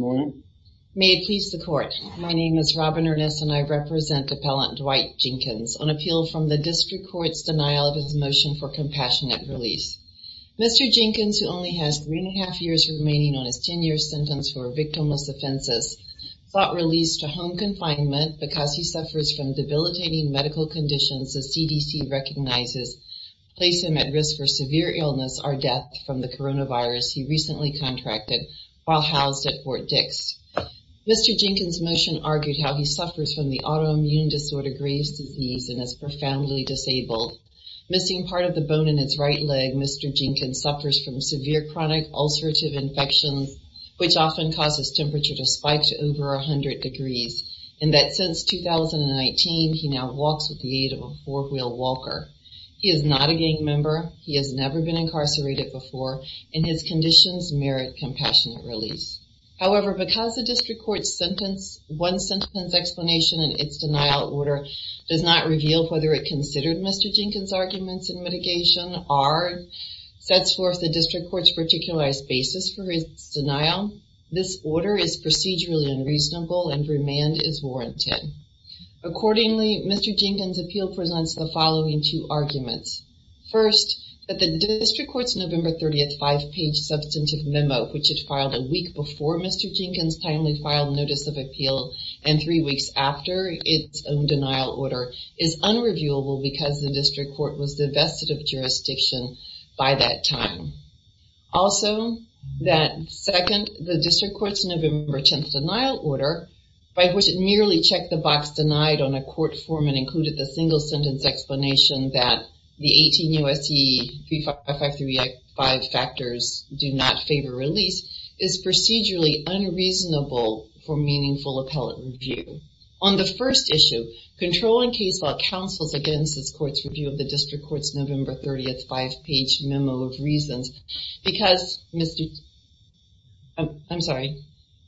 Good morning. May it please the court. My name is Robin Ernest and I represent appellant Dwight Jenkins on appeal from the District Court's denial of his motion for compassionate release. Mr. Jenkins, who only has three and a half years remaining on his 10-year sentence for victimless offenses, sought release to home confinement because he suffers from debilitating medical conditions the CDC recognizes place him at risk for severe illness or death from the Mr. Jenkins motion argued how he suffers from the autoimmune disorder Graves disease and is profoundly disabled. Missing part of the bone in its right leg, Mr. Jenkins suffers from severe chronic ulcerative infections which often causes temperature to spike to over a hundred degrees and that since 2019 he now walks with the aid of a four-wheel Walker. He is not a gang member, he has never been incarcerated before, and his conditions merit compassionate release. However, because the District Court's sentence one sentence explanation and its denial order does not reveal whether it considered Mr. Jenkins arguments in mitigation or sets forth the District Court's particularized basis for his denial, this order is procedurally unreasonable and remand is warranted. Accordingly, Mr. Jenkins appeal presents the following two arguments. First, that the District Court's November 30th five-page substantive memo which it filed a week before Mr. Jenkins timely filed notice of appeal and three weeks after its own denial order is unreviewable because the District Court was divested of jurisdiction by that time. Also, that second the District Court's November 10th denial order by which it merely checked the box denied on a court form and included the single sentence explanation that the 18 U.S.C. 5535 factors do not favor release is procedurally unreasonable for meaningful appellate review. On the first issue, controlling case law counsels against this court's review of the District Court's November 30th five-page memo of reasons because Mr. I'm sorry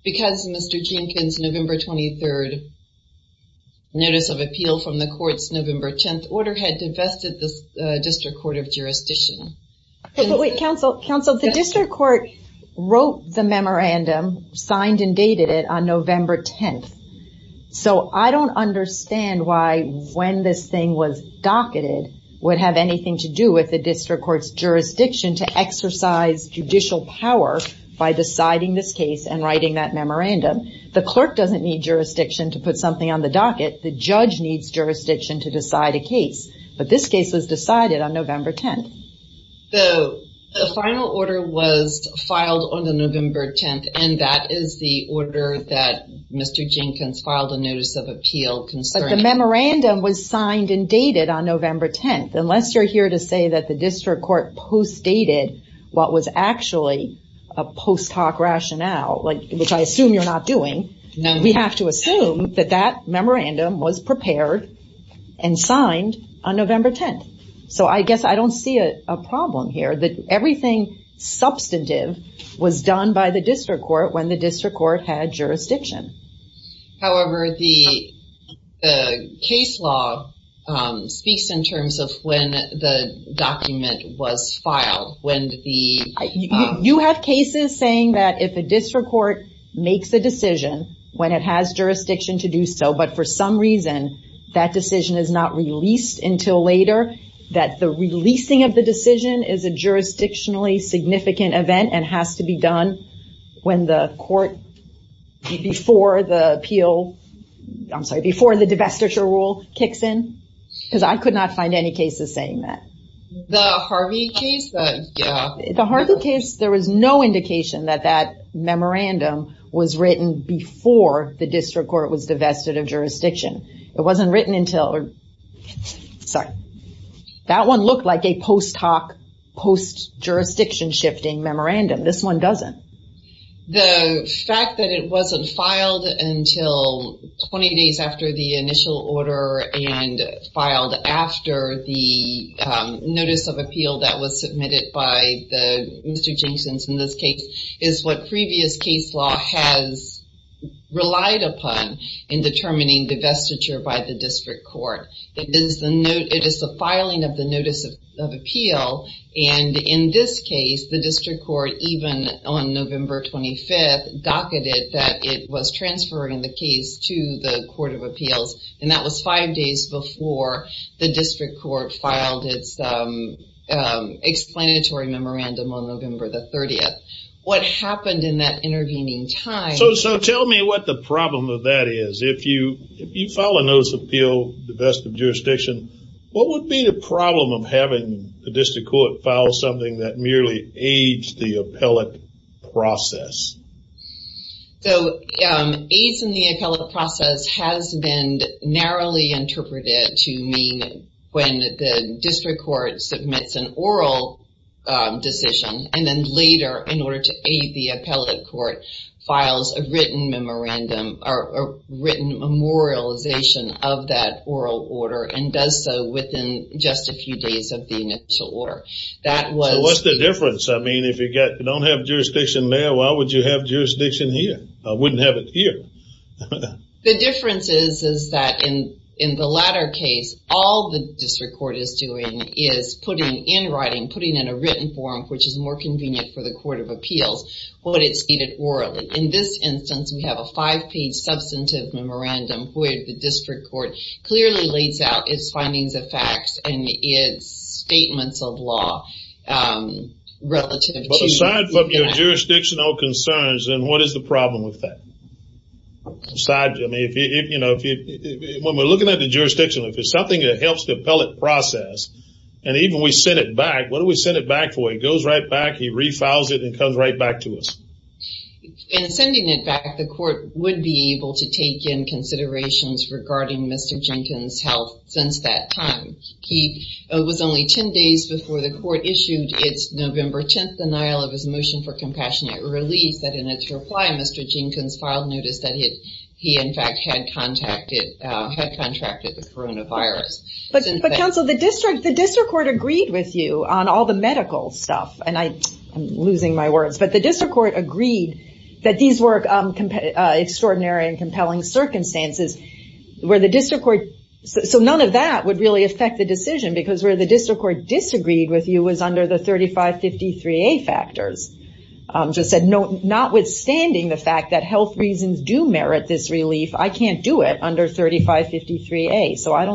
because Mr. Jenkins November 23rd notice of appeal from the court's November 10th order had divested the District Court of jurisdiction. Wait, counsel, counsel, the District Court wrote the memorandum, signed and dated it on November 10th, so I don't understand why when this thing was docketed would have anything to do with the District Court's jurisdiction to exercise judicial power by deciding this case and writing that memorandum. The clerk doesn't need jurisdiction to put something on the docket. The judge needs jurisdiction to decide a case, but this case was decided on November 10th. The final order was filed on the November 10th and that is the order that Mr. Jenkins filed a notice of appeal concerning. The memorandum was signed and dated on November 10th. Unless you're here to say that the District Court post dated what was actually a post hoc rationale, which I assume you're not doing, we have to assume that that memorandum was prepared and signed on November 10th. So I guess I don't see a problem here that everything substantive was done by the District Court when the District Court had jurisdiction. However, the case law speaks in terms of when the District Court makes a decision when it has jurisdiction to do so, but for some reason that decision is not released until later. That the releasing of the decision is a jurisdictionally significant event and has to be done when the court, before the appeal, I'm sorry, before the divestiture rule kicks in. Because I could not find any cases saying that. The Harvey case, there was no indication that that memorandum was written before the District Court was divested of jurisdiction. It wasn't written until, sorry, that one looked like a post hoc, post jurisdiction shifting memorandum. This one doesn't. The fact that it wasn't filed until 20 days after the initial order and filed after the in this case is what previous case law has relied upon in determining divestiture by the District Court. It is the note, it is the filing of the Notice of Appeal and in this case the District Court, even on November 25th, docketed that it was transferring the case to the Court of Appeals and that was five days before the District Court filed its explanatory memorandum on November the 30th. What happened in that intervening time... So tell me what the problem of that is. If you file a Notice of Appeal, divest of jurisdiction, what would be the problem of having the District Court file something that merely aids the appellate process? So aids in the appellate process has been narrowly interpreted to mean when the District Court submits an oral decision and then later, in order to aid the appellate court, files a written memorandum or written memorialization of that oral order and does so within just a few days of the initial order. So what's the difference? I mean if you don't have jurisdiction there, why would you have jurisdiction here? I wouldn't have it here. The difference is that in the latter case, all the District Court is doing is putting in writing, putting in a written form, which is more convenient for the Court of Appeals, what it stated orally. In this instance, we have a five-page substantive memorandum where the District Court clearly lays out its findings of facts and its statements of law relative to that. But aside from your jurisdictional concerns, then what is the problem with that? When we're looking at the jurisdiction, if it's something that helps the appellate process and even we send it back, what do we send it back for? It goes right back, he refiles it and comes right back to us. In sending it back, the court would be able to take in considerations regarding Mr. Jenkins' health since that time. He was only ten days before the court issued its November 10th denial of his motion for compassionate relief that in its reply, Mr. Jenkins filed notice that he in fact had contracted the coronavirus. But counsel, the District Court agreed that these were extraordinary and compelling circumstances. So none of that would really affect the decision because where the District Court disagreed with you was under the 3553A factors. Notwithstanding the fact that health reasons do merit this relief, I can't do it under 3553A. So that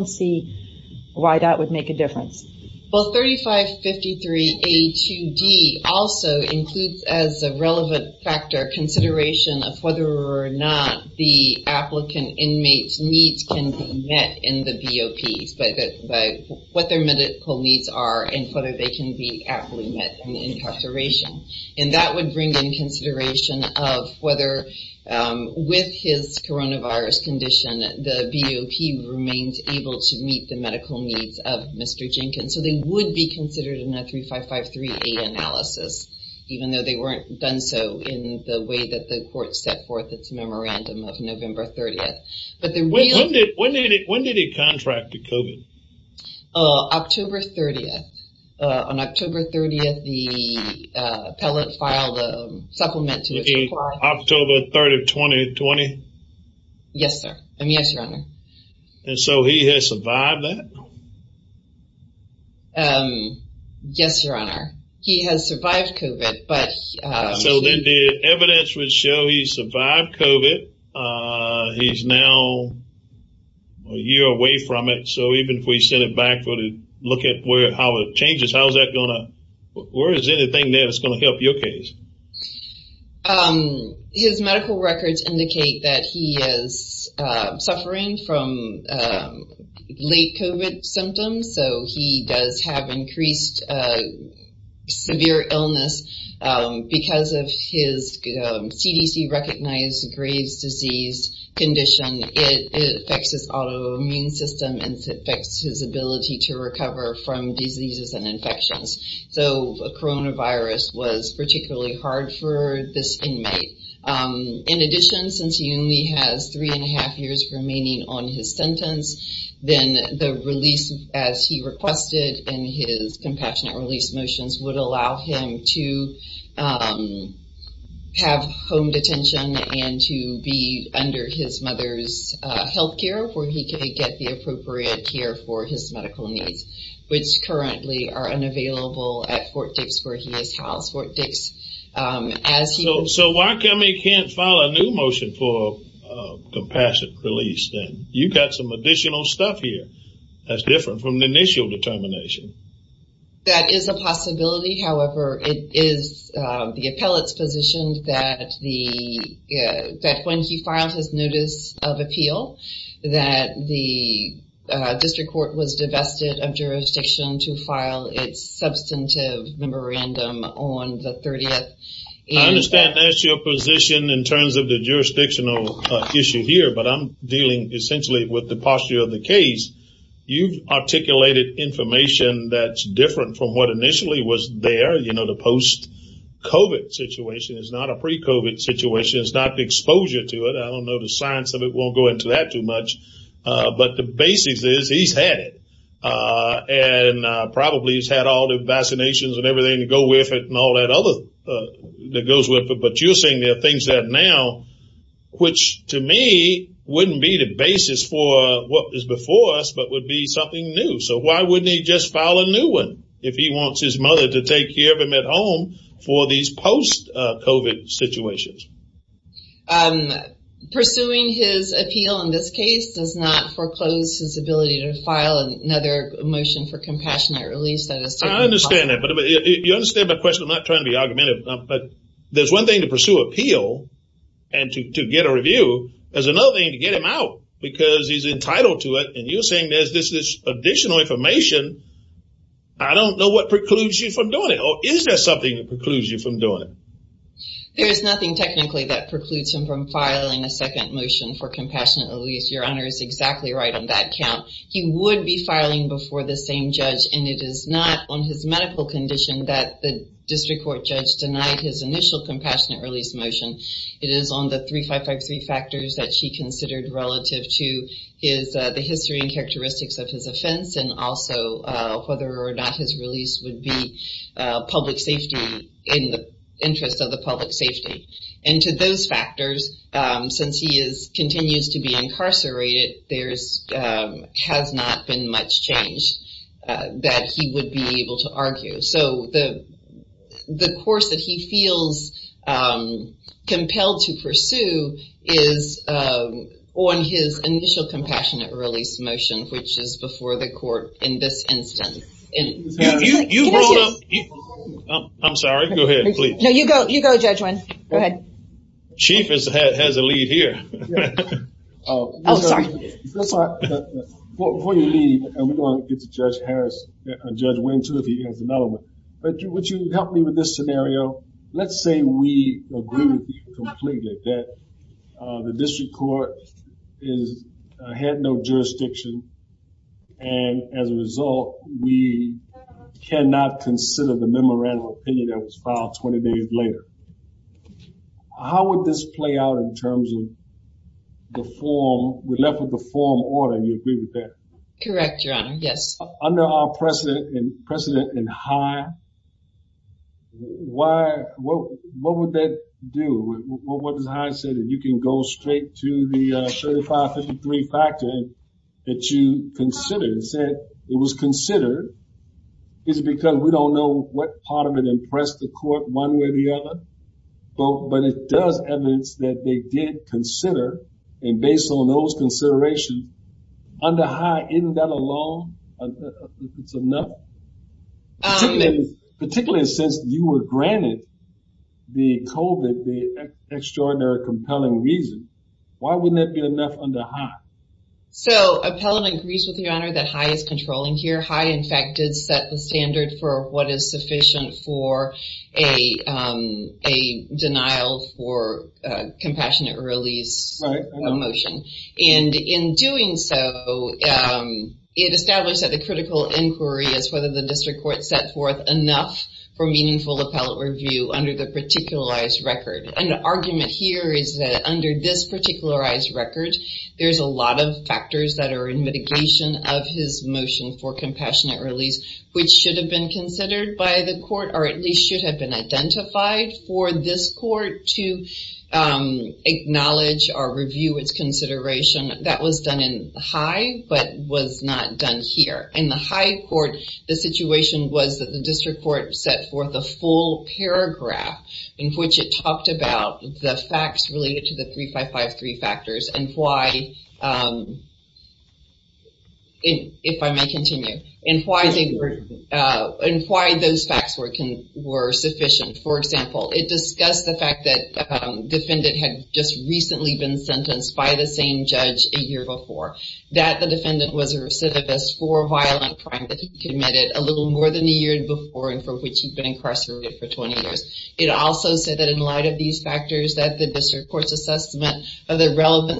also includes as a relevant factor consideration of whether or not the applicant inmate's needs can be met in the BOP, what their medical needs are and whether they can be aptly met in the incarceration. And that would bring in consideration of whether with his coronavirus condition, the BOP remains able to meet the medical needs of Mr. Jenkins. So they would be considered in even though they weren't done so in the way that the court set forth its memorandum of November 30th. But the real... When did he contract the COVID? October 30th. On October 30th, the appellate filed a supplement. October 3rd of 2020? Yes, sir. Yes, your honor. And so he has survived that? Yes, your honor. He has survived COVID, but... So then the evidence would show he survived COVID. He's now a year away from it. So even if we sent it back for to look at where how it changes, how's that gonna... Where is anything that's going to help your case? His medical records indicate that he is suffering from late COVID symptoms. So he does have increased severe illness because of his CDC recognized Graves disease condition. It affects his autoimmune system and affects his ability to recover from diseases and infections. So a coronavirus was particularly hard for this inmate. In addition, since he only has three and a Then the release, as he requested in his compassionate release motions, would allow him to have home detention and to be under his mother's health care where he could get the appropriate care for his medical needs, which currently are unavailable at Fort Dix where he is housed. Fort Dix, as he... So why come he can't file a new motion for compassionate release then? You got some additional stuff here that's different from the initial determination. That is a possibility. However, it is the appellate's position that when he filed his notice of appeal that the district court was divested of jurisdiction to file its substantive memorandum on the 30th. I understand that's your position in terms of the jurisdictional issue here, but I'm the case, you've articulated information that's different from what initially was there. You know, the post COVID situation is not a pre COVID situation. It's not the exposure to it. I don't know the science of it. Won't go into that too much. But the basis is he's had it and probably has had all the vaccinations and everything to go with it and all that other that goes with it. But you're saying there are things that now, which to me wouldn't be the basis for what is before us, but would be something new. So why wouldn't he just file a new one if he wants his mother to take care of him at home for these post COVID situations? Pursuing his appeal in this case does not foreclose his ability to file another motion for compassionate release. I understand that, but you understand my question. I'm not trying to be argumentative, but there's one thing to appeal and to get a review. There's another thing to get him out because he's entitled to it. And you're saying there's this additional information. I don't know what precludes you from doing it. Or is there something that precludes you from doing it? There's nothing technically that precludes him from filing a second motion for compassionate release. Your honor is exactly right on that count. He would be filing before the same judge and it is not on his medical condition that the It is on the 3553 factors that she considered relative to the history and characteristics of his offense and also whether or not his release would be public safety in the interest of the public safety. And to those factors, since he continues to be incarcerated, there has not been much change that he would be able to argue. So the course that he feels compelled to pursue is on his initial compassionate release motion, which is before the court in this instance. I'm sorry. Go ahead, please. No, you go. You go, Judge Wynn. Go ahead. Chief has a lead here. Before you leave, and we're going to get to Judge Harris, Judge Wynn too if he has another one. But would you help me with this scenario? Let's say we agree with you completely that the district court had no jurisdiction and as a result, we cannot consider the memorandum of opinion that was filed 20 days later. How would this play out in terms of the form? We're left with the form order. Do you agree with that? Correct, Your Honor. Yes. Under our precedent in High, what would that do? What does High say that you can go straight to the 3553 factor that you considered and said it was considered? Is it because we don't know what part of it impressed the court one way or the other? But it does evidence that they did consider, and based on those considerations, under High, isn't that alone, it's enough? Particularly since you were granted the COVID, the extraordinary, compelling reason, why wouldn't that be enough under High? So Appellant agrees with you, Your Honor, that High is controlling here. High, in fact, is the standard for what is sufficient for a denial for compassionate release motion. And in doing so, it established that the critical inquiry is whether the district court set forth enough for meaningful appellate review under the particularized record. And the argument here is that under this particularized record, there's a lot of factors that are in mitigation of his motion for compassionate release, which should have been considered by the court, or at least should have been identified for this court to acknowledge or review its consideration. That was done in High, but was not done here. In the High court, the situation was that the district court set forth a full paragraph in which it talked about the facts related to the 3553 factors and why, if I may continue, and why those facts were sufficient. For example, it discussed the fact that defendant had just recently been sentenced by the same judge a year before, that the defendant was a recidivist for a violent crime that he committed a little more than a year before and for which he'd been incarcerated for 20 years. It also said that in light of these factors, that the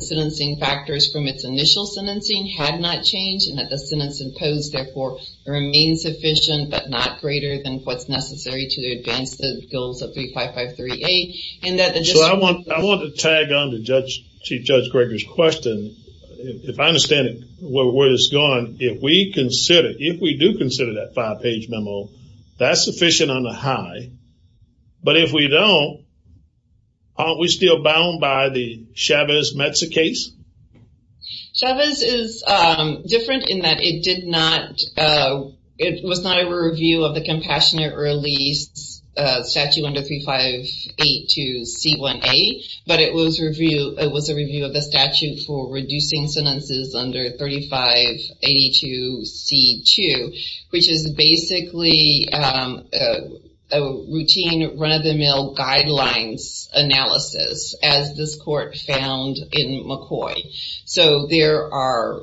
sentencing factors from its initial sentencing had not changed and that the sentence imposed, therefore, remains sufficient but not greater than what's necessary to advance the goals of 3553A. So I want to tag on to Chief Judge Gregor's question. If I understand it, where it's going, if we consider, if we do consider that five-page memo, that's sufficient on the memo, aren't we still bound by the Chavez-Metz case? Chavez is different in that it did not, it was not a review of the compassionate release statute under 3582 C1A, but it was a review of the statute for reducing sentences under 3582 C2, which is basically a routine run-of-the-mill guidelines analysis, as this court found in McCoy. So there are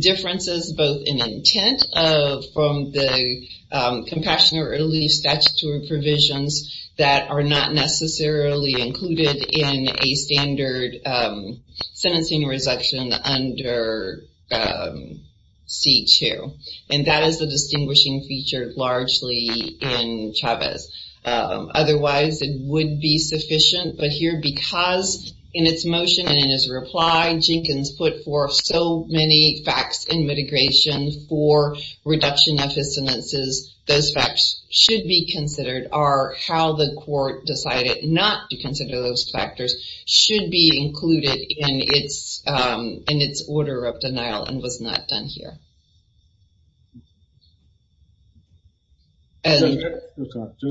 differences both in intent from the compassionate release statutory provisions that are not under C2, and that is the distinguishing feature largely in Chavez. Otherwise, it would be sufficient, but here, because in its motion and in his reply, Jenkins put forth so many facts in mitigation for reduction of his sentences, those facts should be considered are how the court decided not to consider those factors should be included in its in its order of denial and was not done here. Judge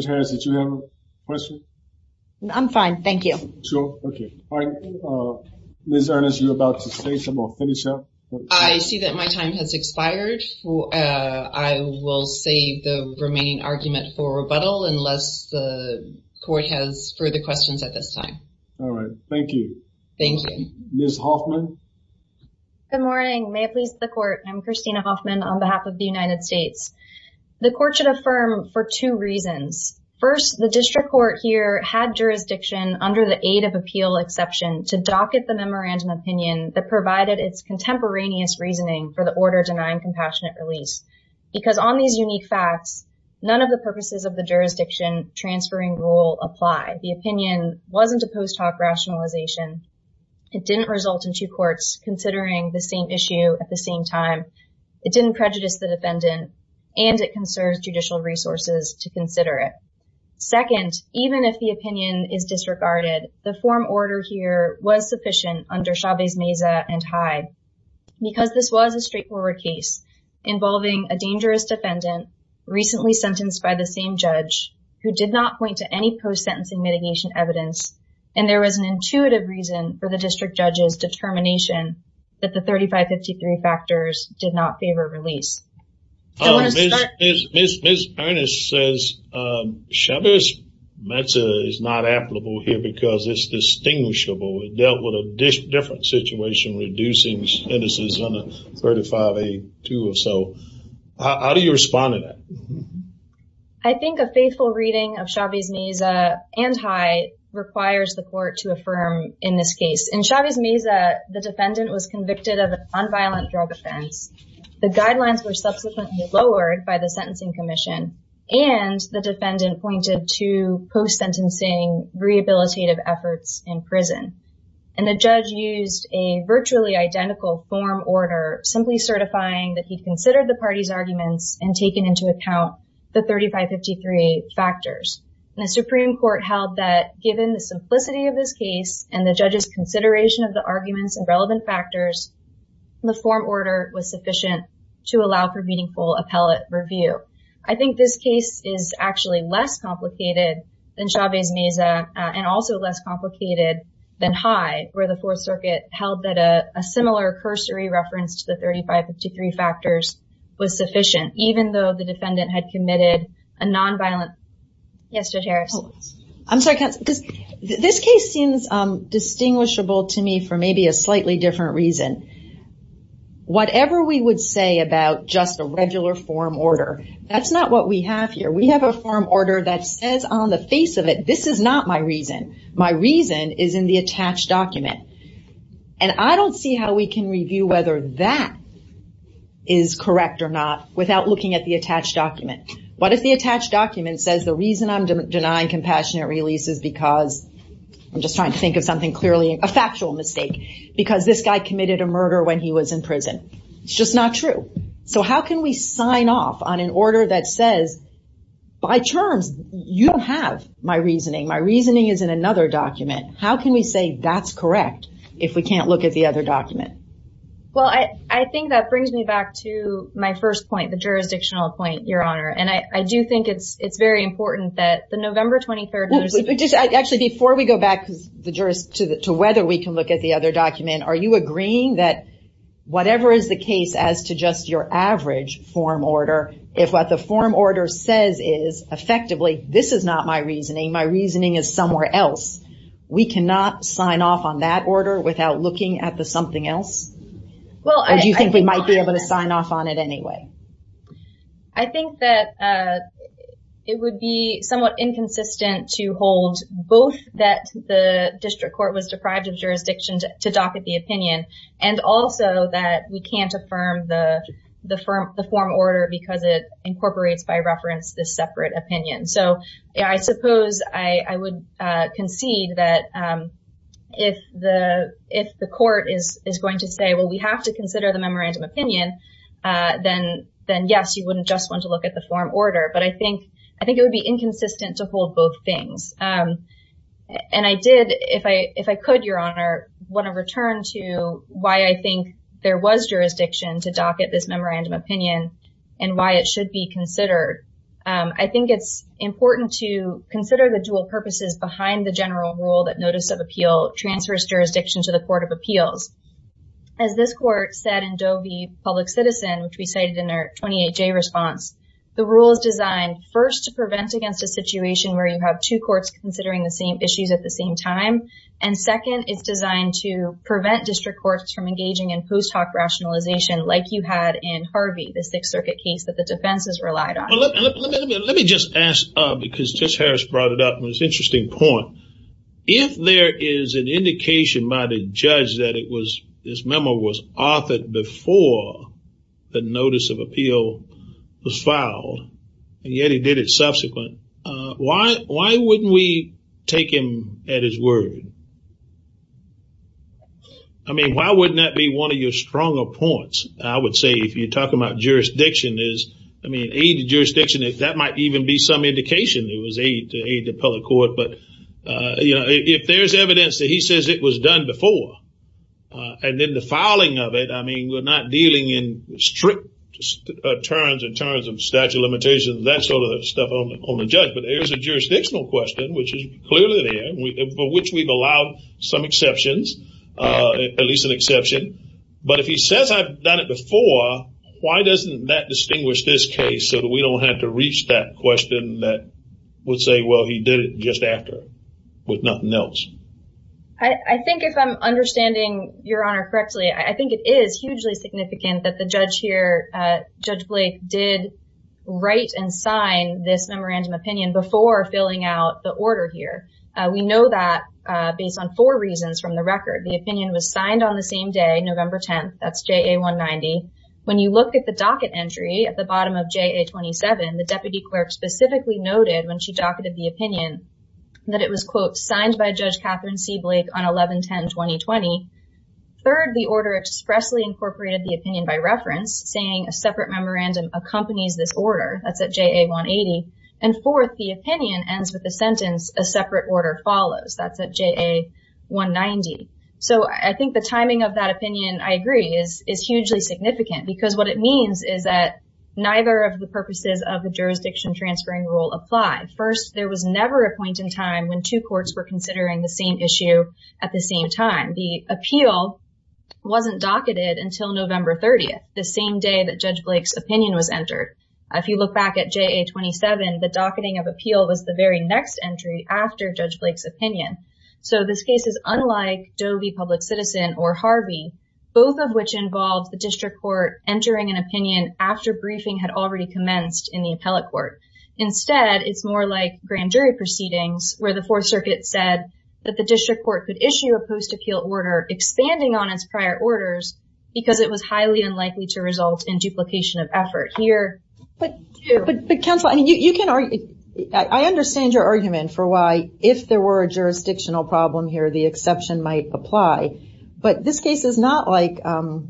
Harris, did you have a question? I'm fine, thank you. Sure, okay. Ms. Ernest, you're about to say something or finish up? I see that my time has expired, I will save the remaining argument for rebuttal unless the court has further questions at this time. All right, thank you. Thank you. Ms. Hoffman? Good morning, may it please the court. I'm Christina Hoffman on behalf of the United States. The court should affirm for two reasons. First, the district court here had jurisdiction under the aid of appeal exception to docket the memorandum opinion that provided its contemporaneous reasoning for the order denying compassionate release, because on these unique facts, none of the purposes of the jurisdiction transferring rule apply. The opinion wasn't a post hoc rationalization, it didn't result in two courts considering the same issue at the same time, it didn't prejudice the defendant, and it conserves judicial resources to consider it. Second, even if the opinion is disregarded, the form order here was sufficient under Chavez-Meza and Hyde, because this was a straightforward case involving a dangerous defendant, recently sentenced by the same judge, who did not point to any post sentencing mitigation evidence, and there was an intuitive reason for the district judge's determination that the 3553 factors did not favor release. Ms. Earnest says Chavez-Meza is not applicable here because it's distinguishable. It dealt with a different situation reducing sentences on a 35A2 or so. How do you respond to that? I think a faithful reading of Chavez-Meza and Hyde requires the court to affirm in this case. In Chavez-Meza, the defendant was convicted of an unviolent drug offense, the guidelines were subsequently lowered by the Sentencing Commission, and the defendant pointed to post sentencing rehabilitative efforts in prison, and the Supreme Court held that given the simplicity of this case and the judge's consideration of the arguments and relevant factors, the form order was sufficient to allow for meaningful appellate review. I think this case is actually less complicated than Chavez-Meza and also less complicated than held that a similar cursory reference to the 3553 factors was sufficient even though the defendant had committed a nonviolent... Yes, Judge Harris. I'm sorry, because this case seems distinguishable to me for maybe a slightly different reason. Whatever we would say about just a regular form order, that's not what we have here. We have a form order that says on the face of it, this is not my reason. My reason is in the attached document. I don't see how we can review whether that is correct or not without looking at the attached document. What if the attached document says the reason I'm denying compassionate release is because, I'm just trying to think of something clearly, a factual mistake, because this guy committed a murder when he was in prison. It's just not true. How can we sign off on an order that says, by terms, you have my reasoning. My reasoning is in another document. How can we say that's correct if we can't look at the other document? Well, I think that brings me back to my first point, the jurisdictional point, Your Honor. I do think it's very important that the November 23rd... Actually, before we go back to whether we can look at the other document, are you agreeing that whatever is the case as to just your average form order, if what the form order says is, effectively, this is not my reasoning. My reasoning is somewhere else. We cannot sign off on that order without looking at the something else? Or do you think we might be able to sign off on it anyway? I think that it would be somewhat inconsistent to hold both that the district court was deprived of jurisdiction to docket the opinion and also that we can't affirm the form order because it incorporates by jurisdiction. I would concede that if the court is going to say, well, we have to consider the memorandum opinion, then, yes, you wouldn't just want to look at the form order. But I think it would be inconsistent to hold both things, and I did, if I could, Your Honor, want to return to why I think there was jurisdiction to docket this memorandum opinion and why it should be considered. I think it's behind the general rule that notice of appeal transfers jurisdiction to the Court of Appeals. As this court said in Doe v. Public Citizen, which we cited in our 28-J response, the rule is designed, first, to prevent against a situation where you have two courts considering the same issues at the same time, and second, it's designed to prevent district courts from engaging in post-hoc rationalization like you had in Harvey, the Sixth Circuit case that the Court of Appeals did. I think that's an interesting point. If there is an indication by the judge that it was, this memo was authored before the notice of appeal was filed, and yet he did it subsequent, why wouldn't we take him at his word? I mean, why wouldn't that be one of your stronger points? I would say, if you're talking about jurisdiction, is, I mean, aid to jurisdiction, if that might even be some indication, it was aid to public court, but, you know, if there's evidence that he says it was done before, and then the filing of it, I mean, we're not dealing in strict terms in terms of statute of limitations, that sort of stuff on the judge, but there's a jurisdictional question, which is clearly there, for which we've allowed some exceptions, at least an exception, but if he says I've done it before, why doesn't that distinguish this case so that we don't have to reach that question that would say, well, he did it just after, with nothing else? I think if I'm understanding your Honor correctly, I think it is hugely significant that the judge here, Judge Blake, did write and sign this memorandum opinion before filling out the order here. We know that based on four reasons from the record. The opinion was signed on the same day, November 10th, that's JA 190. When you look at the docket entry at the bottom of JA 27, the deputy clerk specifically noted when she docketed the opinion that it was, quote, signed by Judge Catherine C. Blake on 11-10-2020. Third, the order expressly incorporated the opinion by reference, saying a separate memorandum accompanies this order, that's at JA 180, and fourth, the opinion ends with the sentence, a separate order follows, that's at JA 190. So I think the timing of that opinion, I agree, is hugely significant, because what it means is that neither of the purposes of the jurisdiction transferring rule apply. First, there was never a point in time when two courts were considering the same issue at the same time. The appeal wasn't docketed until November 30th, the same day that Judge Blake's opinion was entered. If you look back at JA 27, the docketing of appeal was the very next entry after Judge Blake's opinion. So this case is unlike Doe v. Public Citizen or Harvey, both of which involved the after-briefing had already commenced in the appellate court. Instead, it's more like grand jury proceedings, where the Fourth Circuit said that the district court could issue a post-appeal order, expanding on its prior orders, because it was highly unlikely to result in duplication of effort. Here, but, but counsel, I mean, you can argue, I understand your argument for why, if there were a jurisdictional problem here, the exception might apply, but this case is not like the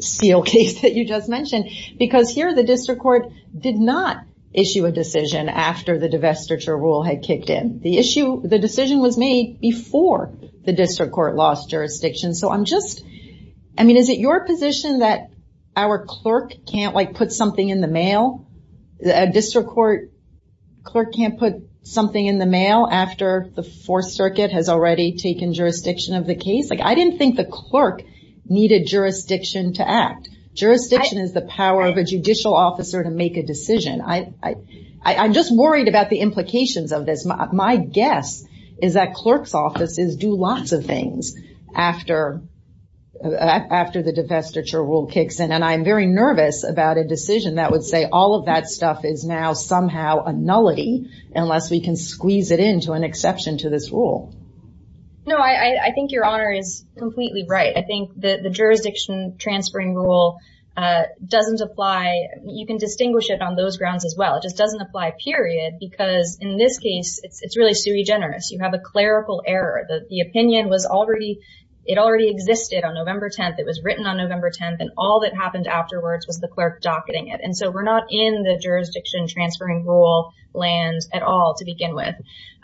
seal case that you just mentioned, because here the district court did not issue a decision after the divestiture rule had kicked in. The issue, the decision was made before the district court lost jurisdiction. So I'm just, I mean, is it your position that our clerk can't, like, put something in the mail? A district court clerk can't put something in the mail after the Fourth Circuit case? Like, I didn't think the clerk needed jurisdiction to act. Jurisdiction is the power of a judicial officer to make a decision. I, I, I'm just worried about the implications of this. My guess is that clerk's offices do lots of things after, after the divestiture rule kicks in, and I'm very nervous about a decision that would say all of that stuff is now somehow a nullity, unless we can squeeze it into an exception to this rule. No, I, I think your honor is completely right. I think that the jurisdiction transferring rule doesn't apply. You can distinguish it on those grounds as well. It just doesn't apply, period, because in this case, it's, it's really sui generis. You have a clerical error. The, the opinion was already, it already existed on November 10th. It was written on November 10th, and all that happened afterwards was the clerk docketing it, and so we're not in the jurisdiction transferring rule land at all to begin with.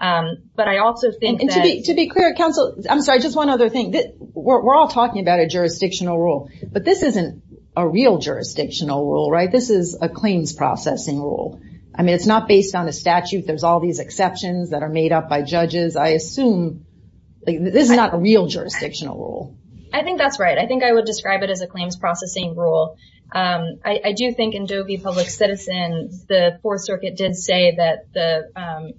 But I also think that... And to be, to be clear, counsel, I'm sorry, just one other thing. We're all talking about a jurisdictional rule, but this isn't a real jurisdictional rule, right? This is a claims processing rule. I mean, it's not based on a statute. There's all these exceptions that are made up by judges. I assume this is not a real jurisdictional rule. I think that's right. I think I would describe it as a claims processing rule. I do think in Doe v. Public Citizens, the Fourth Circuit did say that the,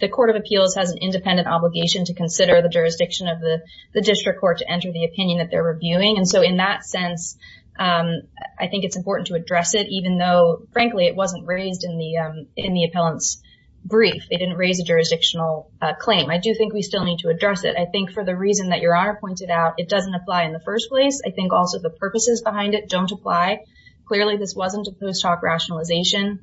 the Court of Appeals has an independent obligation to consider the jurisdiction of the, the district court to enter the opinion that they're reviewing, and so in that sense, I think it's important to address it, even though, frankly, it wasn't raised in the, in the appellant's brief. They didn't raise a jurisdictional claim. I do think we still need to address it. I think for the reason that Your Honor pointed out, it doesn't apply in the first place. I think also the purposes behind it don't apply. Clearly, this wasn't a post hoc rationalization.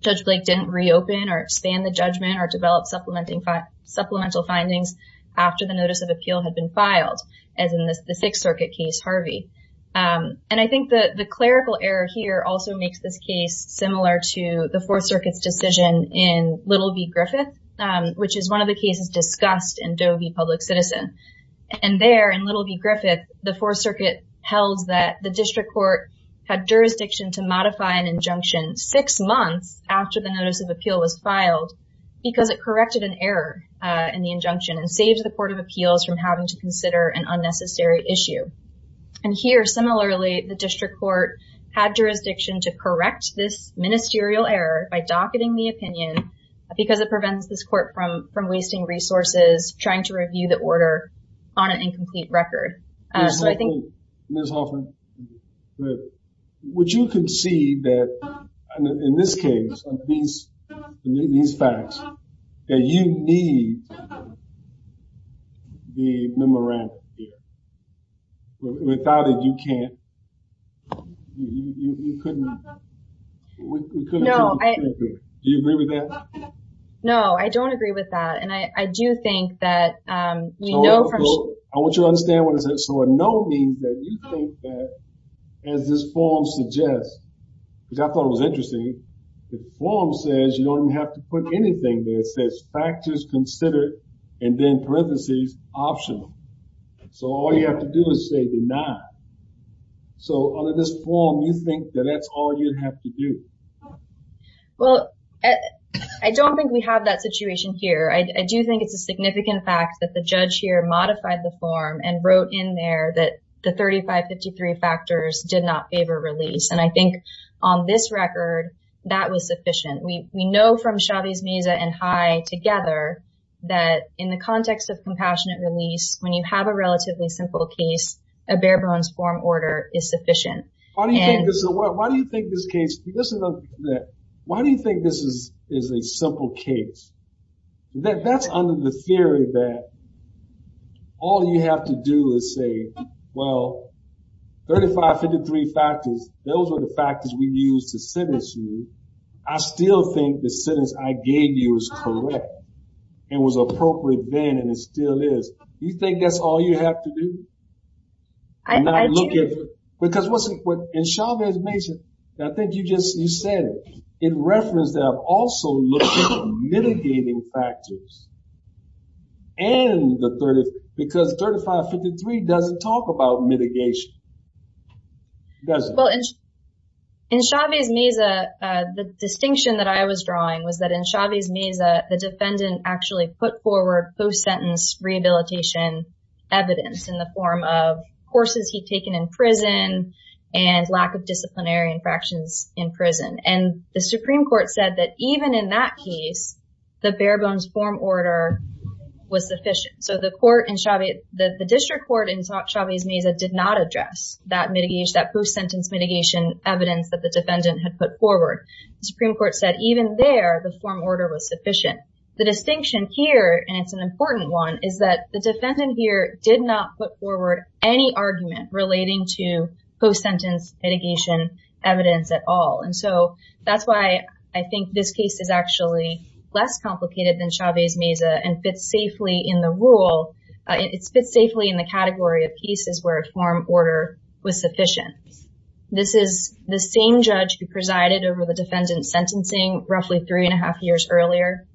Judge Blake didn't reopen or expand the judgment or develop supplementing, supplemental findings after the notice of appeal had been filed, as in this, the Sixth Circuit case, Harvey, and I think that the clerical error here also makes this case similar to the Fourth Circuit's decision in Little v. Griffith, which is one of the cases discussed in Doe v. Public Citizen, and there, in Little v. Griffith, the district court had jurisdiction to modify an injunction six months after the notice of appeal was filed because it corrected an error in the injunction and saved the Court of Appeals from having to consider an unnecessary issue, and here, similarly, the district court had jurisdiction to correct this ministerial error by docketing the opinion because it prevents this court from, from wasting resources trying to review the order on an incomplete record. Ms. Hoffman, would you concede that, in this case, in these facts, that you need the memorandum here? Without it, you can't, you couldn't, you couldn't do what you can't do. Do you agree with that? No, I don't agree with that, and I do think that we know from- I want you to understand what I said. So, a no means that you think that, as this form suggests, because I thought it was interesting, the form says you don't even have to put anything there. It says, factors considered, and then parentheses, optional. So, all you have to do is say deny. So, under this form, you think that that's all you'd have to do? Well, I don't think we have that situation here. I do think it's a and wrote in there that the 3553 factors did not favor release, and I think, on this record, that was sufficient. We know from Chavez-Mesa and High together that, in the context of compassionate release, when you have a relatively simple case, a bare-bones form order is sufficient. Why do you think this is a- why do you think this case- listen to that. Why do you think this is a simple case? That's under the theory that all you have to do is say, well, 3553 factors, those were the factors we used to sentence you. I still think the sentence I gave you is correct and was appropriate then, and it still is. You think that's all you have to do? I do. Because what's- in Chavez-Mesa, I think you just- you said in reference that I've also looked at mitigating factors and the 30- because 3553 doesn't talk about mitigation, does it? Well, in Chavez-Mesa, the distinction that I was drawing was that in Chavez-Mesa, the defendant actually put forward post-sentence rehabilitation evidence in the form of courses he'd taken in prison and lack of disciplinary infractions in prison. And the Supreme Court said that even in that case, the bare-bones form order was sufficient. So the court in Chavez- the district court in Chavez-Mesa did not address that mitigation, that post-sentence mitigation evidence that the defendant had put forward. The Supreme Court said even there, the form order was sufficient. The distinction here, and it's an important one, is that the defendant here did not put forward any argument relating to post-sentence mitigation evidence at all. And so that's why I think this case is actually less complicated than Chavez-Mesa and fits safely in the rule. It fits safely in the category of cases where a form order was sufficient. This is the same judge who presided over the defendant's sentencing roughly three and a half years earlier,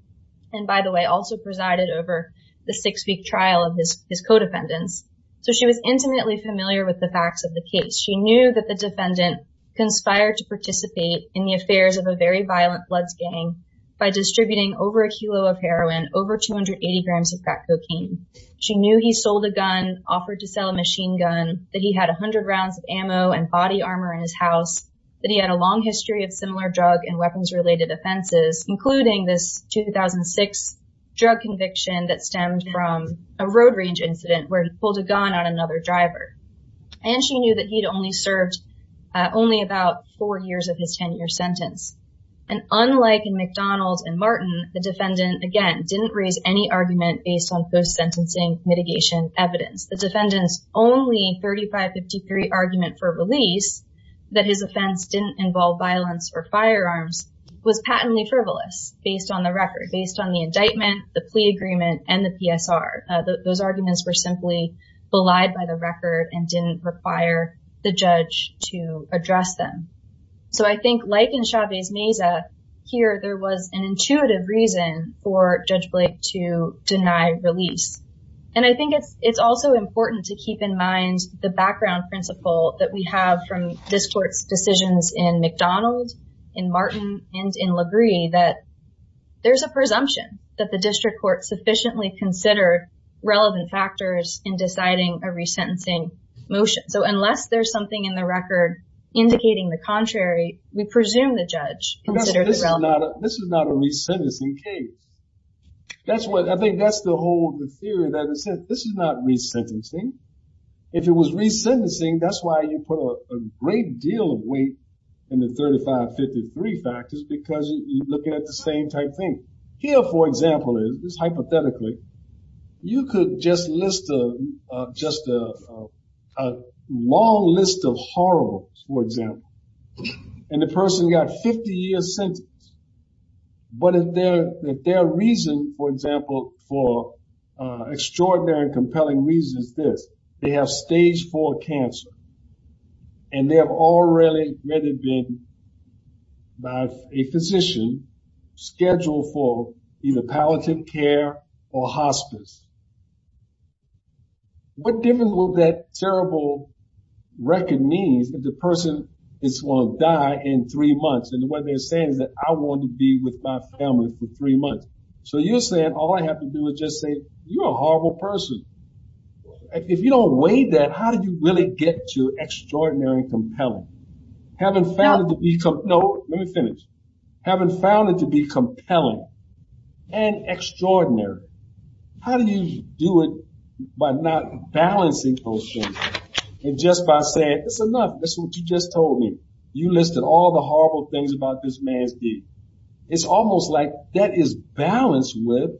and by the way, also presided over the six-week trial of his co-defendants. So she was intimately familiar with the facts of the case. She knew that the defendant conspired to participate in the affairs of a very violent bloods gang by distributing over a kilo of heroin, over 280 grams of crack cocaine. She knew he sold a gun, offered to sell a machine gun, that he had 100 rounds of ammo and body armor in his house, that he had a long history of similar drug and weapons-related offenses, including this 2006 drug conviction that he had in a range incident where he pulled a gun on another driver. And she knew that he'd only served only about four years of his 10-year sentence. And unlike in McDonald and Martin, the defendant, again, didn't raise any argument based on post-sentencing mitigation evidence. The defendant's only 3553 argument for release, that his offense didn't involve violence or firearms, was patently frivolous based on the record, based on the fact that his arguments were simply belied by the record and didn't require the judge to address them. So I think like in Chavez Meza here, there was an intuitive reason for Judge Blake to deny release. And I think it's also important to keep in mind the background principle that we have from this court's decisions in McDonald, in Martin, and in LaGrie that there's a presumption that the district court sufficiently considered relevant factors in deciding a resentencing motion. So unless there's something in the record indicating the contrary, we presume the judge considered it relevant. This is not a resentencing case. That's what I think, that's the whole of the theory that this is not resentencing. If it was resentencing, that's why you put a great deal of weight in the 3553 factors, because you're looking at the same type thing. Here, for example, is hypothetically, you could just list just a long list of horribles, for example, and the person got 50 years sentenced. But if their reason, for example, for extraordinary and compelling reasons is this, they have stage four cancer and they have already been by a physician scheduled for either palliative care or hospice, what difference will that terrible record mean if the person is going to die in three months? And what they're saying is that I want to be with my family for three months. So you're saying all I have to do is just say, you're a horrible person. If you don't weigh that, how do you really get to extraordinary and compelling? Having found it to be compelling and extraordinary, how do you do it by not balancing those things and just by saying, that's enough, that's what you just told me, you listed all the horrible things about this man's deed. It's almost like that is balanced with,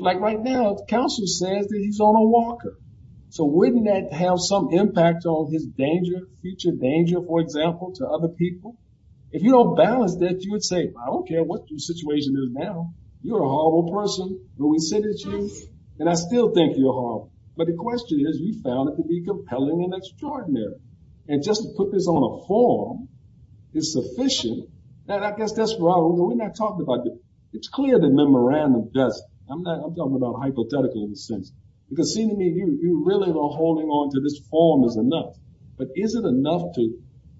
like right now, the counselor says that he's on a walker, so wouldn't that have some impact on his danger, future danger, for example, to other people? If you don't balance that, you would say, I don't care what your situation is now, you're a horrible person, but we said it's you, and I still think you're horrible. But the question is, you found it to be compelling and extraordinary. And just to put this on a form is sufficient. And I guess that's where I was, we're not talking about the, it's clear that memorandum doesn't. I'm not, I'm talking about hypothetical in a sense. Because see to me, you really are holding on to this form is enough, but isn't enough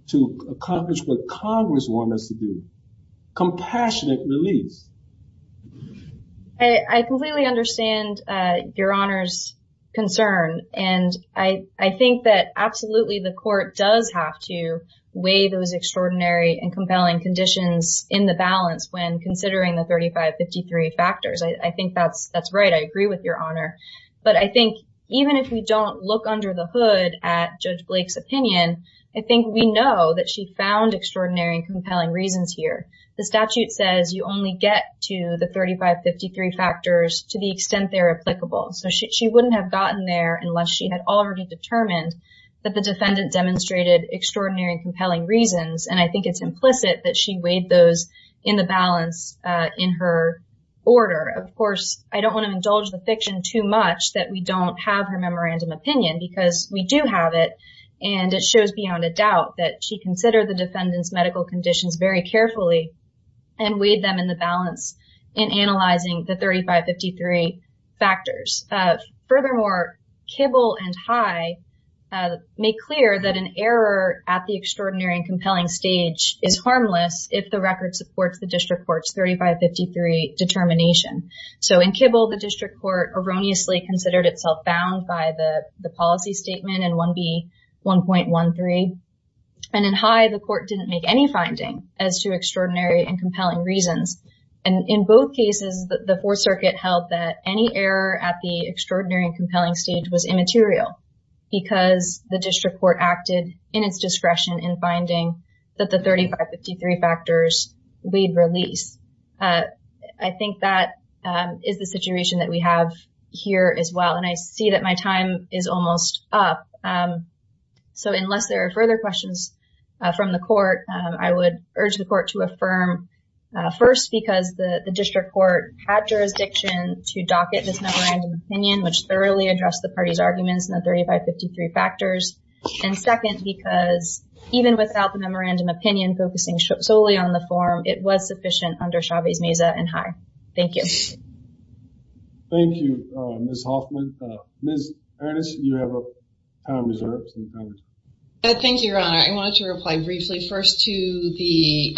to accomplish what Congress wanted us to do, compassionate release. I completely understand your Honor's concern. And I think that absolutely the court does have to weigh those extraordinary and compelling conditions in the balance when considering the 3553 factors. I think that's right. I agree with your Honor. But I think even if we don't look under the hood at Judge Blake's opinion, I think we know that she found extraordinary and compelling reasons here. The statute says you only get to the 3553 factors to the extent they're applicable. So she wouldn't have gotten there unless she had already determined that the defendant demonstrated extraordinary and compelling reasons. And I think it's implicit that she weighed those in the balance in her order. Of course, I don't want to indulge the fiction too much that we don't have her memorandum opinion because we do have it. And it shows beyond a doubt that she considered the defendant's medical conditions very carefully and weighed them in the balance in analyzing the 3553 factors. Furthermore, Kibble and High make clear that an error at the extraordinary and compelling stage is harmless if the record supports the district court's 3553 determination. So in Kibble, the district court erroneously considered itself bound by the policy statement in 1B.1.13. And in High, the court didn't make any finding as to extraordinary and compelling reasons. And in both cases, the Fourth Circuit held that any error at the extraordinary and compelling stage was immaterial because the district court acted in its discretion in finding that the 3553 factors weighed release. I think that is the situation that we have here as well. And I see that my time is almost up. So unless there are further questions from the court, I would urge the court to affirm first because the district court had jurisdiction to docket this memorandum opinion, which thoroughly addressed the party's arguments in the 3553 factors. And second, because even without the memorandum opinion focusing solely on the district court, the district court has no jurisdiction to docket this memorandum court had jurisdiction to docket this memorandum of understanding. Thank you. Thank you, Ms. Hoffman. Ms. Ernest, you have time reserved. Thank you, Your Honor. I wanted to reply briefly first to the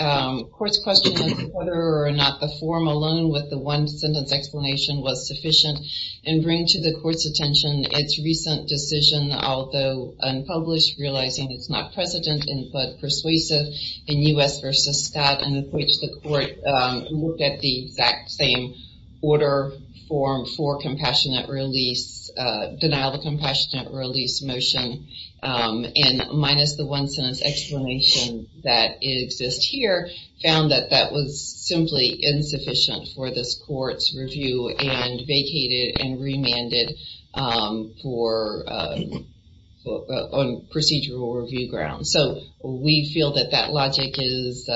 court's question of whether or not the form alone with the one-sentence explanation was sufficient and bring to the court's attention its recent decision, although unpublished, realizing it's not precedent but persuasive in U.S. v. Scott, in which the court looked at the exact same order form for compassionate release, denial of innocence explanation that exists here, found that that was simply insufficient for this court's review and vacated and remanded on procedural review grounds. So, we feel that that logic is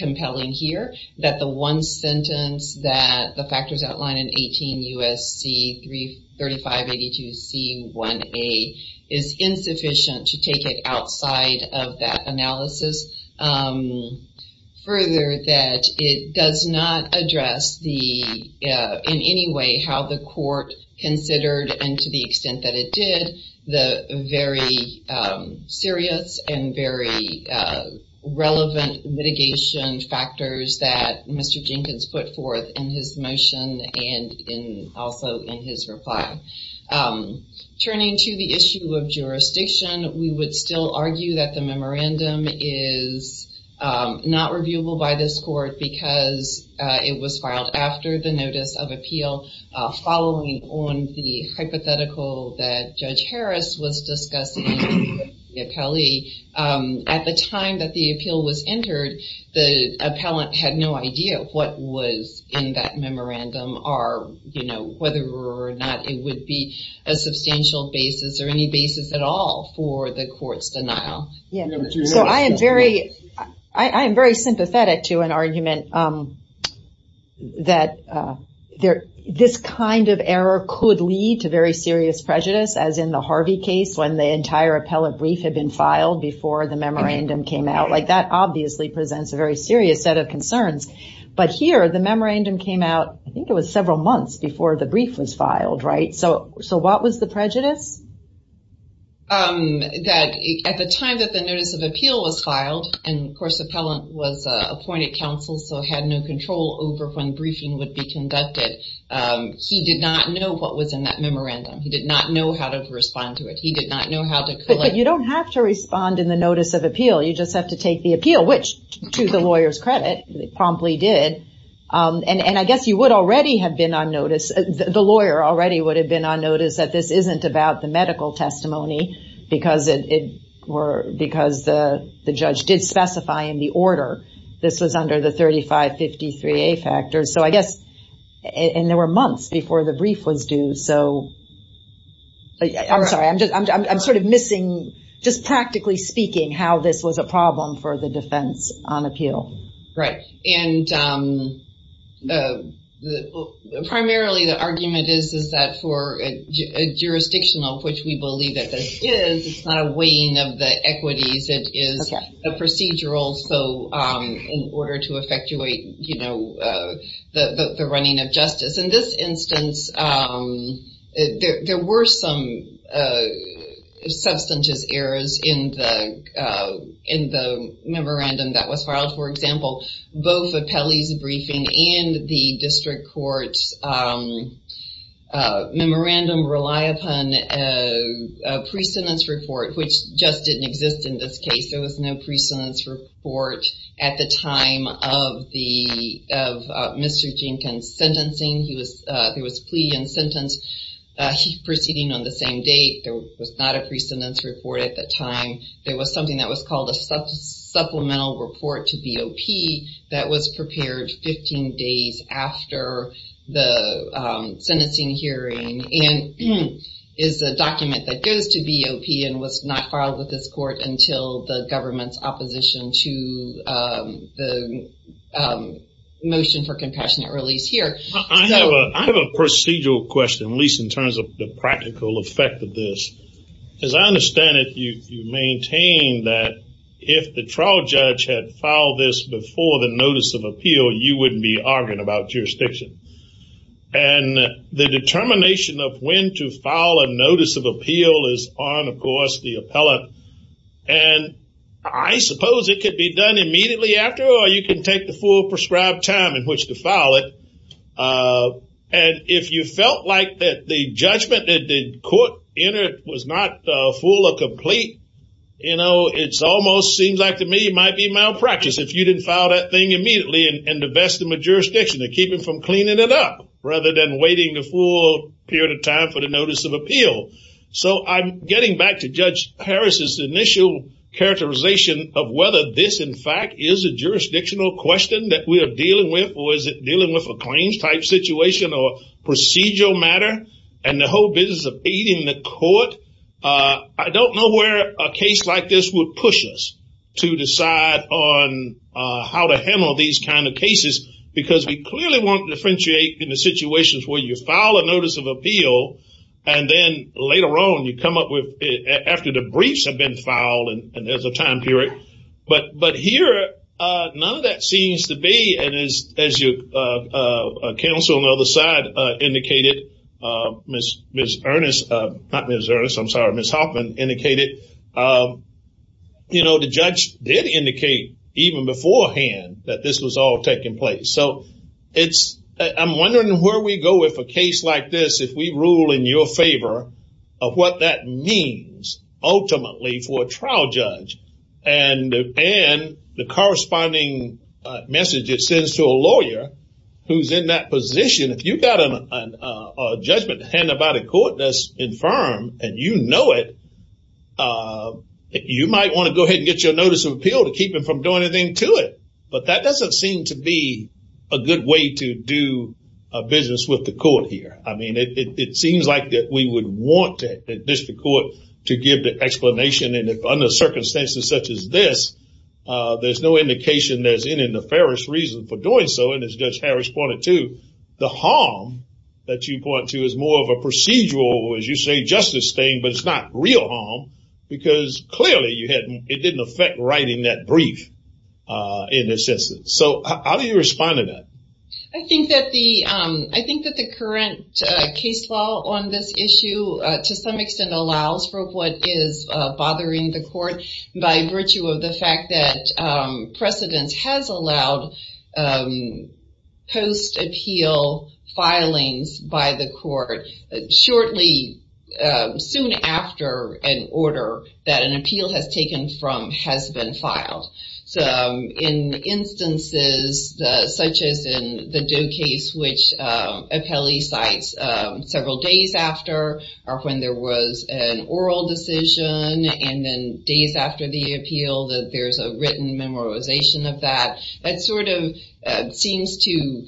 compelling here, that the one sentence that the factors outline in 18 U.S.C. 3582C1A is insufficient to take outside of that analysis. Further, that it does not address the, in any way, how the court considered, and to the extent that it did, the very serious and very relevant litigation factors that Mr. Jenkins put forth in his motion and also in his reply. Turning to the issue of jurisdiction, we would still argue that the memorandum is not reviewable by this court because it was filed after the notice of appeal following on the hypothetical that Judge Harris was discussing with the appellee. At the time that the appeal was entered, the appellant had no idea what was in that memorandum or whether or not it would be a substantial basis or any basis at all for the court's denial. So, I am very sympathetic to an argument that this kind of error could lead to very serious prejudice, as in the Harvey case, when the entire appellate brief had been filed before the memorandum came out. That obviously presents a very serious set of concerns. But here, the memorandum came out, I think it was several months before the brief was filed, right? So, what was the prejudice? That at the time that the notice of appeal was filed, and of course the appellant was appointed counsel so had no control over when briefing would be conducted, he did not know what was in that memorandum. He did not know how to respond to it. But you don't have to respond in the notice of appeal. You just have to take the appeal, which, to the lawyer's credit, promptly did. And I guess you would already have been on notice, the lawyer already would have been on notice that this isn't about the medical testimony because the judge did specify in the order this was under the 3553A factors. So, I guess, and there were months before the brief was due, so. I'm sorry. I'm sort of missing, just practically speaking, how this was a problem for the defense on appeal. Right. And primarily, the argument is that for a jurisdictional, which we believe that this is, it's not a weighing of the equities. It is a procedural. So, in order to effectuate, you know, the running of justice. In this instance, there were some substantive errors in the memorandum that was filed. For example, both Apelli's briefing and the district court's memorandum rely upon a precedence report, which just didn't exist in this case. There was no precedence report at the time of Mr. Jenkins' sentencing. There was plea and sentence proceeding on the same date. There was not a precedence report at the time. There was something that was called a supplemental report to BOP that was prepared 15 days after the sentencing hearing and is a document that goes to BOP and was not filed with this court until the government's opposition to the motion for compassionate release here. I have a procedural question, at least in terms of the practical effect of this. As I understand it, you maintain that if the trial judge had filed this before the notice of appeal, you wouldn't be arguing about jurisdiction. And the determination of when to file a notice of appeal is on, of course, the appellate. And I suppose it could be done immediately after, or you can take the full prescribed time in which to file it. And if you felt like that the judgment that the court entered was not full or complete, you know, it almost seems like to me it might be malpractice if you didn't file that thing immediately and invest in the jurisdiction to keep it from cleaning it up, rather than waiting the full period of time for the notice of appeal. So I'm getting back to Judge Harris' initial characterization of whether this, in fact, is a jurisdictional question that we are dealing with, or is it dealing with a claims-type situation or procedural matter? And the whole business of aiding the court. I don't know where a case like this would push us to decide on how to handle these kind of cases, because we clearly want to differentiate in the situations where you file a case, and then later on, you come up with, after the briefs have been filed, and there's a time period. But here, none of that seems to be, and as counsel on the other side indicated, Ms. Ernest, not Ms. Ernest, I'm sorry, Ms. Hoffman indicated, you know, the judge did indicate, even beforehand, that this was all taking place. So it's, I'm wondering where we go if a case like this, if we have a rule in your favor of what that means, ultimately, for a trial judge, and the corresponding message it sends to a lawyer who's in that position. If you've got a judgment to hand about a court that's infirm, and you know it, you might want to go ahead and get your notice of appeal to keep them from doing anything to it. But that doesn't seem to be a good way to do a business with the court here. I mean, it seems like we would want the district court to give the explanation, and under circumstances such as this, there's no indication there's any nefarious reason for doing so, and as Judge Harris pointed to, the harm that you point to is more of a procedural, as you say, justice thing, but it's not real harm. Because clearly, it didn't affect writing that brief in this instance. So how do you respond to that? I think that the current case law on this issue, to some extent, allows for what is bothering the court by virtue of the fact that precedence has allowed post-appeal filings by the court shortly, soon after an order that an appeal has taken from has been filed. So in instances such as in the Doe case, which Apelli cites several days after, or when there was an oral decision, and then days after the appeal, that there's a written memorization of that, that sort of seems to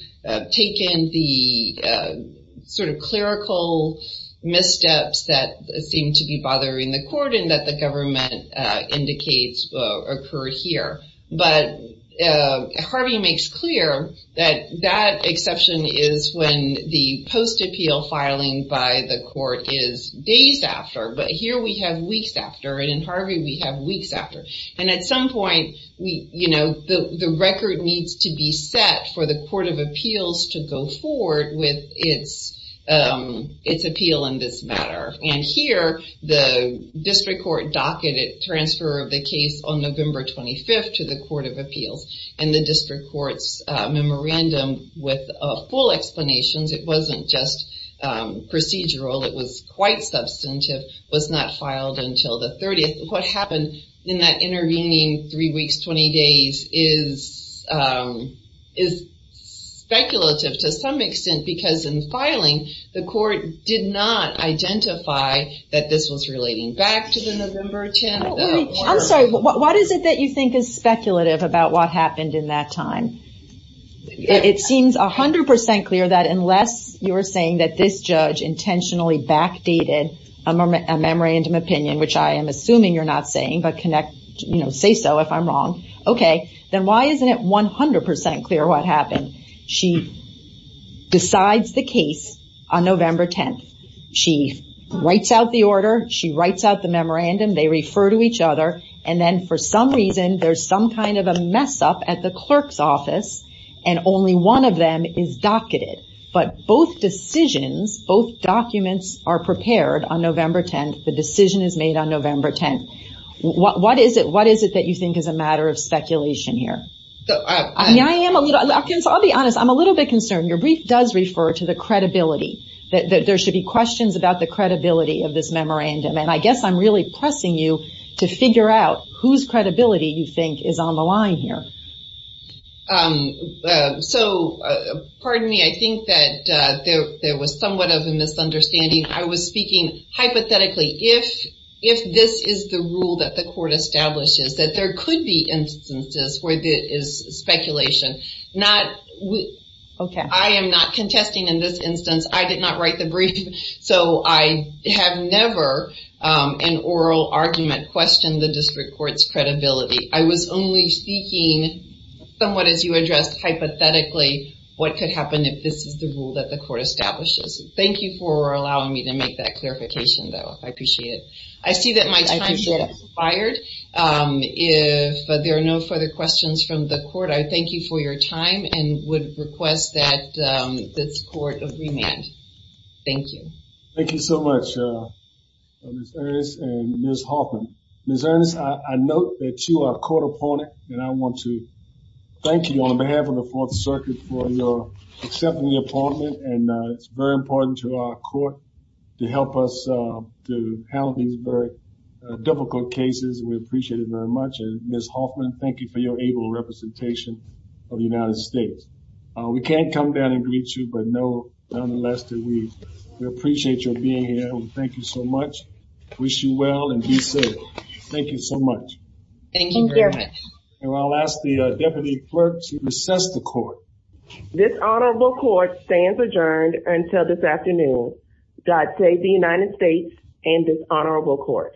take in the sort of clerical missteps that seem to be bothering the court and that the government indicates occurred here. But Harvey makes clear that that exception is when the post-appeal filing by the court is days after, but here we have weeks after, and in Harvey we have weeks after. And at some point, the record needs to be set for the court of appeals to go forward with its appeal in this matter. And here, the district court docketed transfer of the case on November 25th to the court of appeals, and the district court's memorandum with full explanations, it wasn't just procedural, it was quite substantive, was not filed until the 30th. What happened in that intervening three weeks, 20 days is speculative to some extent because in this case, the court didn't specify that this was relating back to the November 10th. I'm sorry, what is it that you think is speculative about what happened in that time? It seems 100% clear that unless you're saying that this judge intentionally backdated a memorandum opinion, which I am assuming you're not saying, but say so if I'm wrong, okay, then why isn't it 100% clear what happened? She decides the case on November 10th. She writes out the order. She writes out the memorandum. They refer to each other, and then for some reason, there's some kind of a mess up at the clerk's office, and only one of them is docketed. But both decisions, both documents are prepared on November 10th. The decision is made on November 10th. What is it that you think is a matter of speculation here? I'll be honest, I'm a little bit concerned. Your brief does refer to the credibility that there should be questions about the credibility of this memorandum, and I guess I'm really pressing you to figure out whose credibility you think is on the line here. So, pardon me, I think that there was somewhat of a misunderstanding. I was speaking hypothetically. If this is the rule that the court establishes, that there could be instances where there is speculation, I am not contesting in this instance. I did not write the brief, so I have never in oral argument questioned the district court's credibility. I was only speaking somewhat as you addressed hypothetically what could happen if this is the rule that the court establishes. Thank you for allowing me to make that clarification, though, I appreciate it. I see that my time has expired. If there are no further questions from the court, I thank you for your time and would request that this court remand. Thank you. Thank you so much, Ms. Ernst and Ms. Hoffman. Ms. Ernst, I note that you are a court opponent, and I want to thank you on behalf of the Fourth Circuit for accepting the appointment, and it's very important to our court to help us to handle these very difficult cases. We appreciate it very much. And Ms. Hoffman, thank you for your able representation of the United States. We can't come down and greet you, but nonetheless, we appreciate your being here, and we thank you so much, wish you well, and be safe. Thank you so much. Thank you very much. And I'll ask the deputy clerk to recess the court. This honorable court stands adjourned until this afternoon. God save the United States and this honorable court.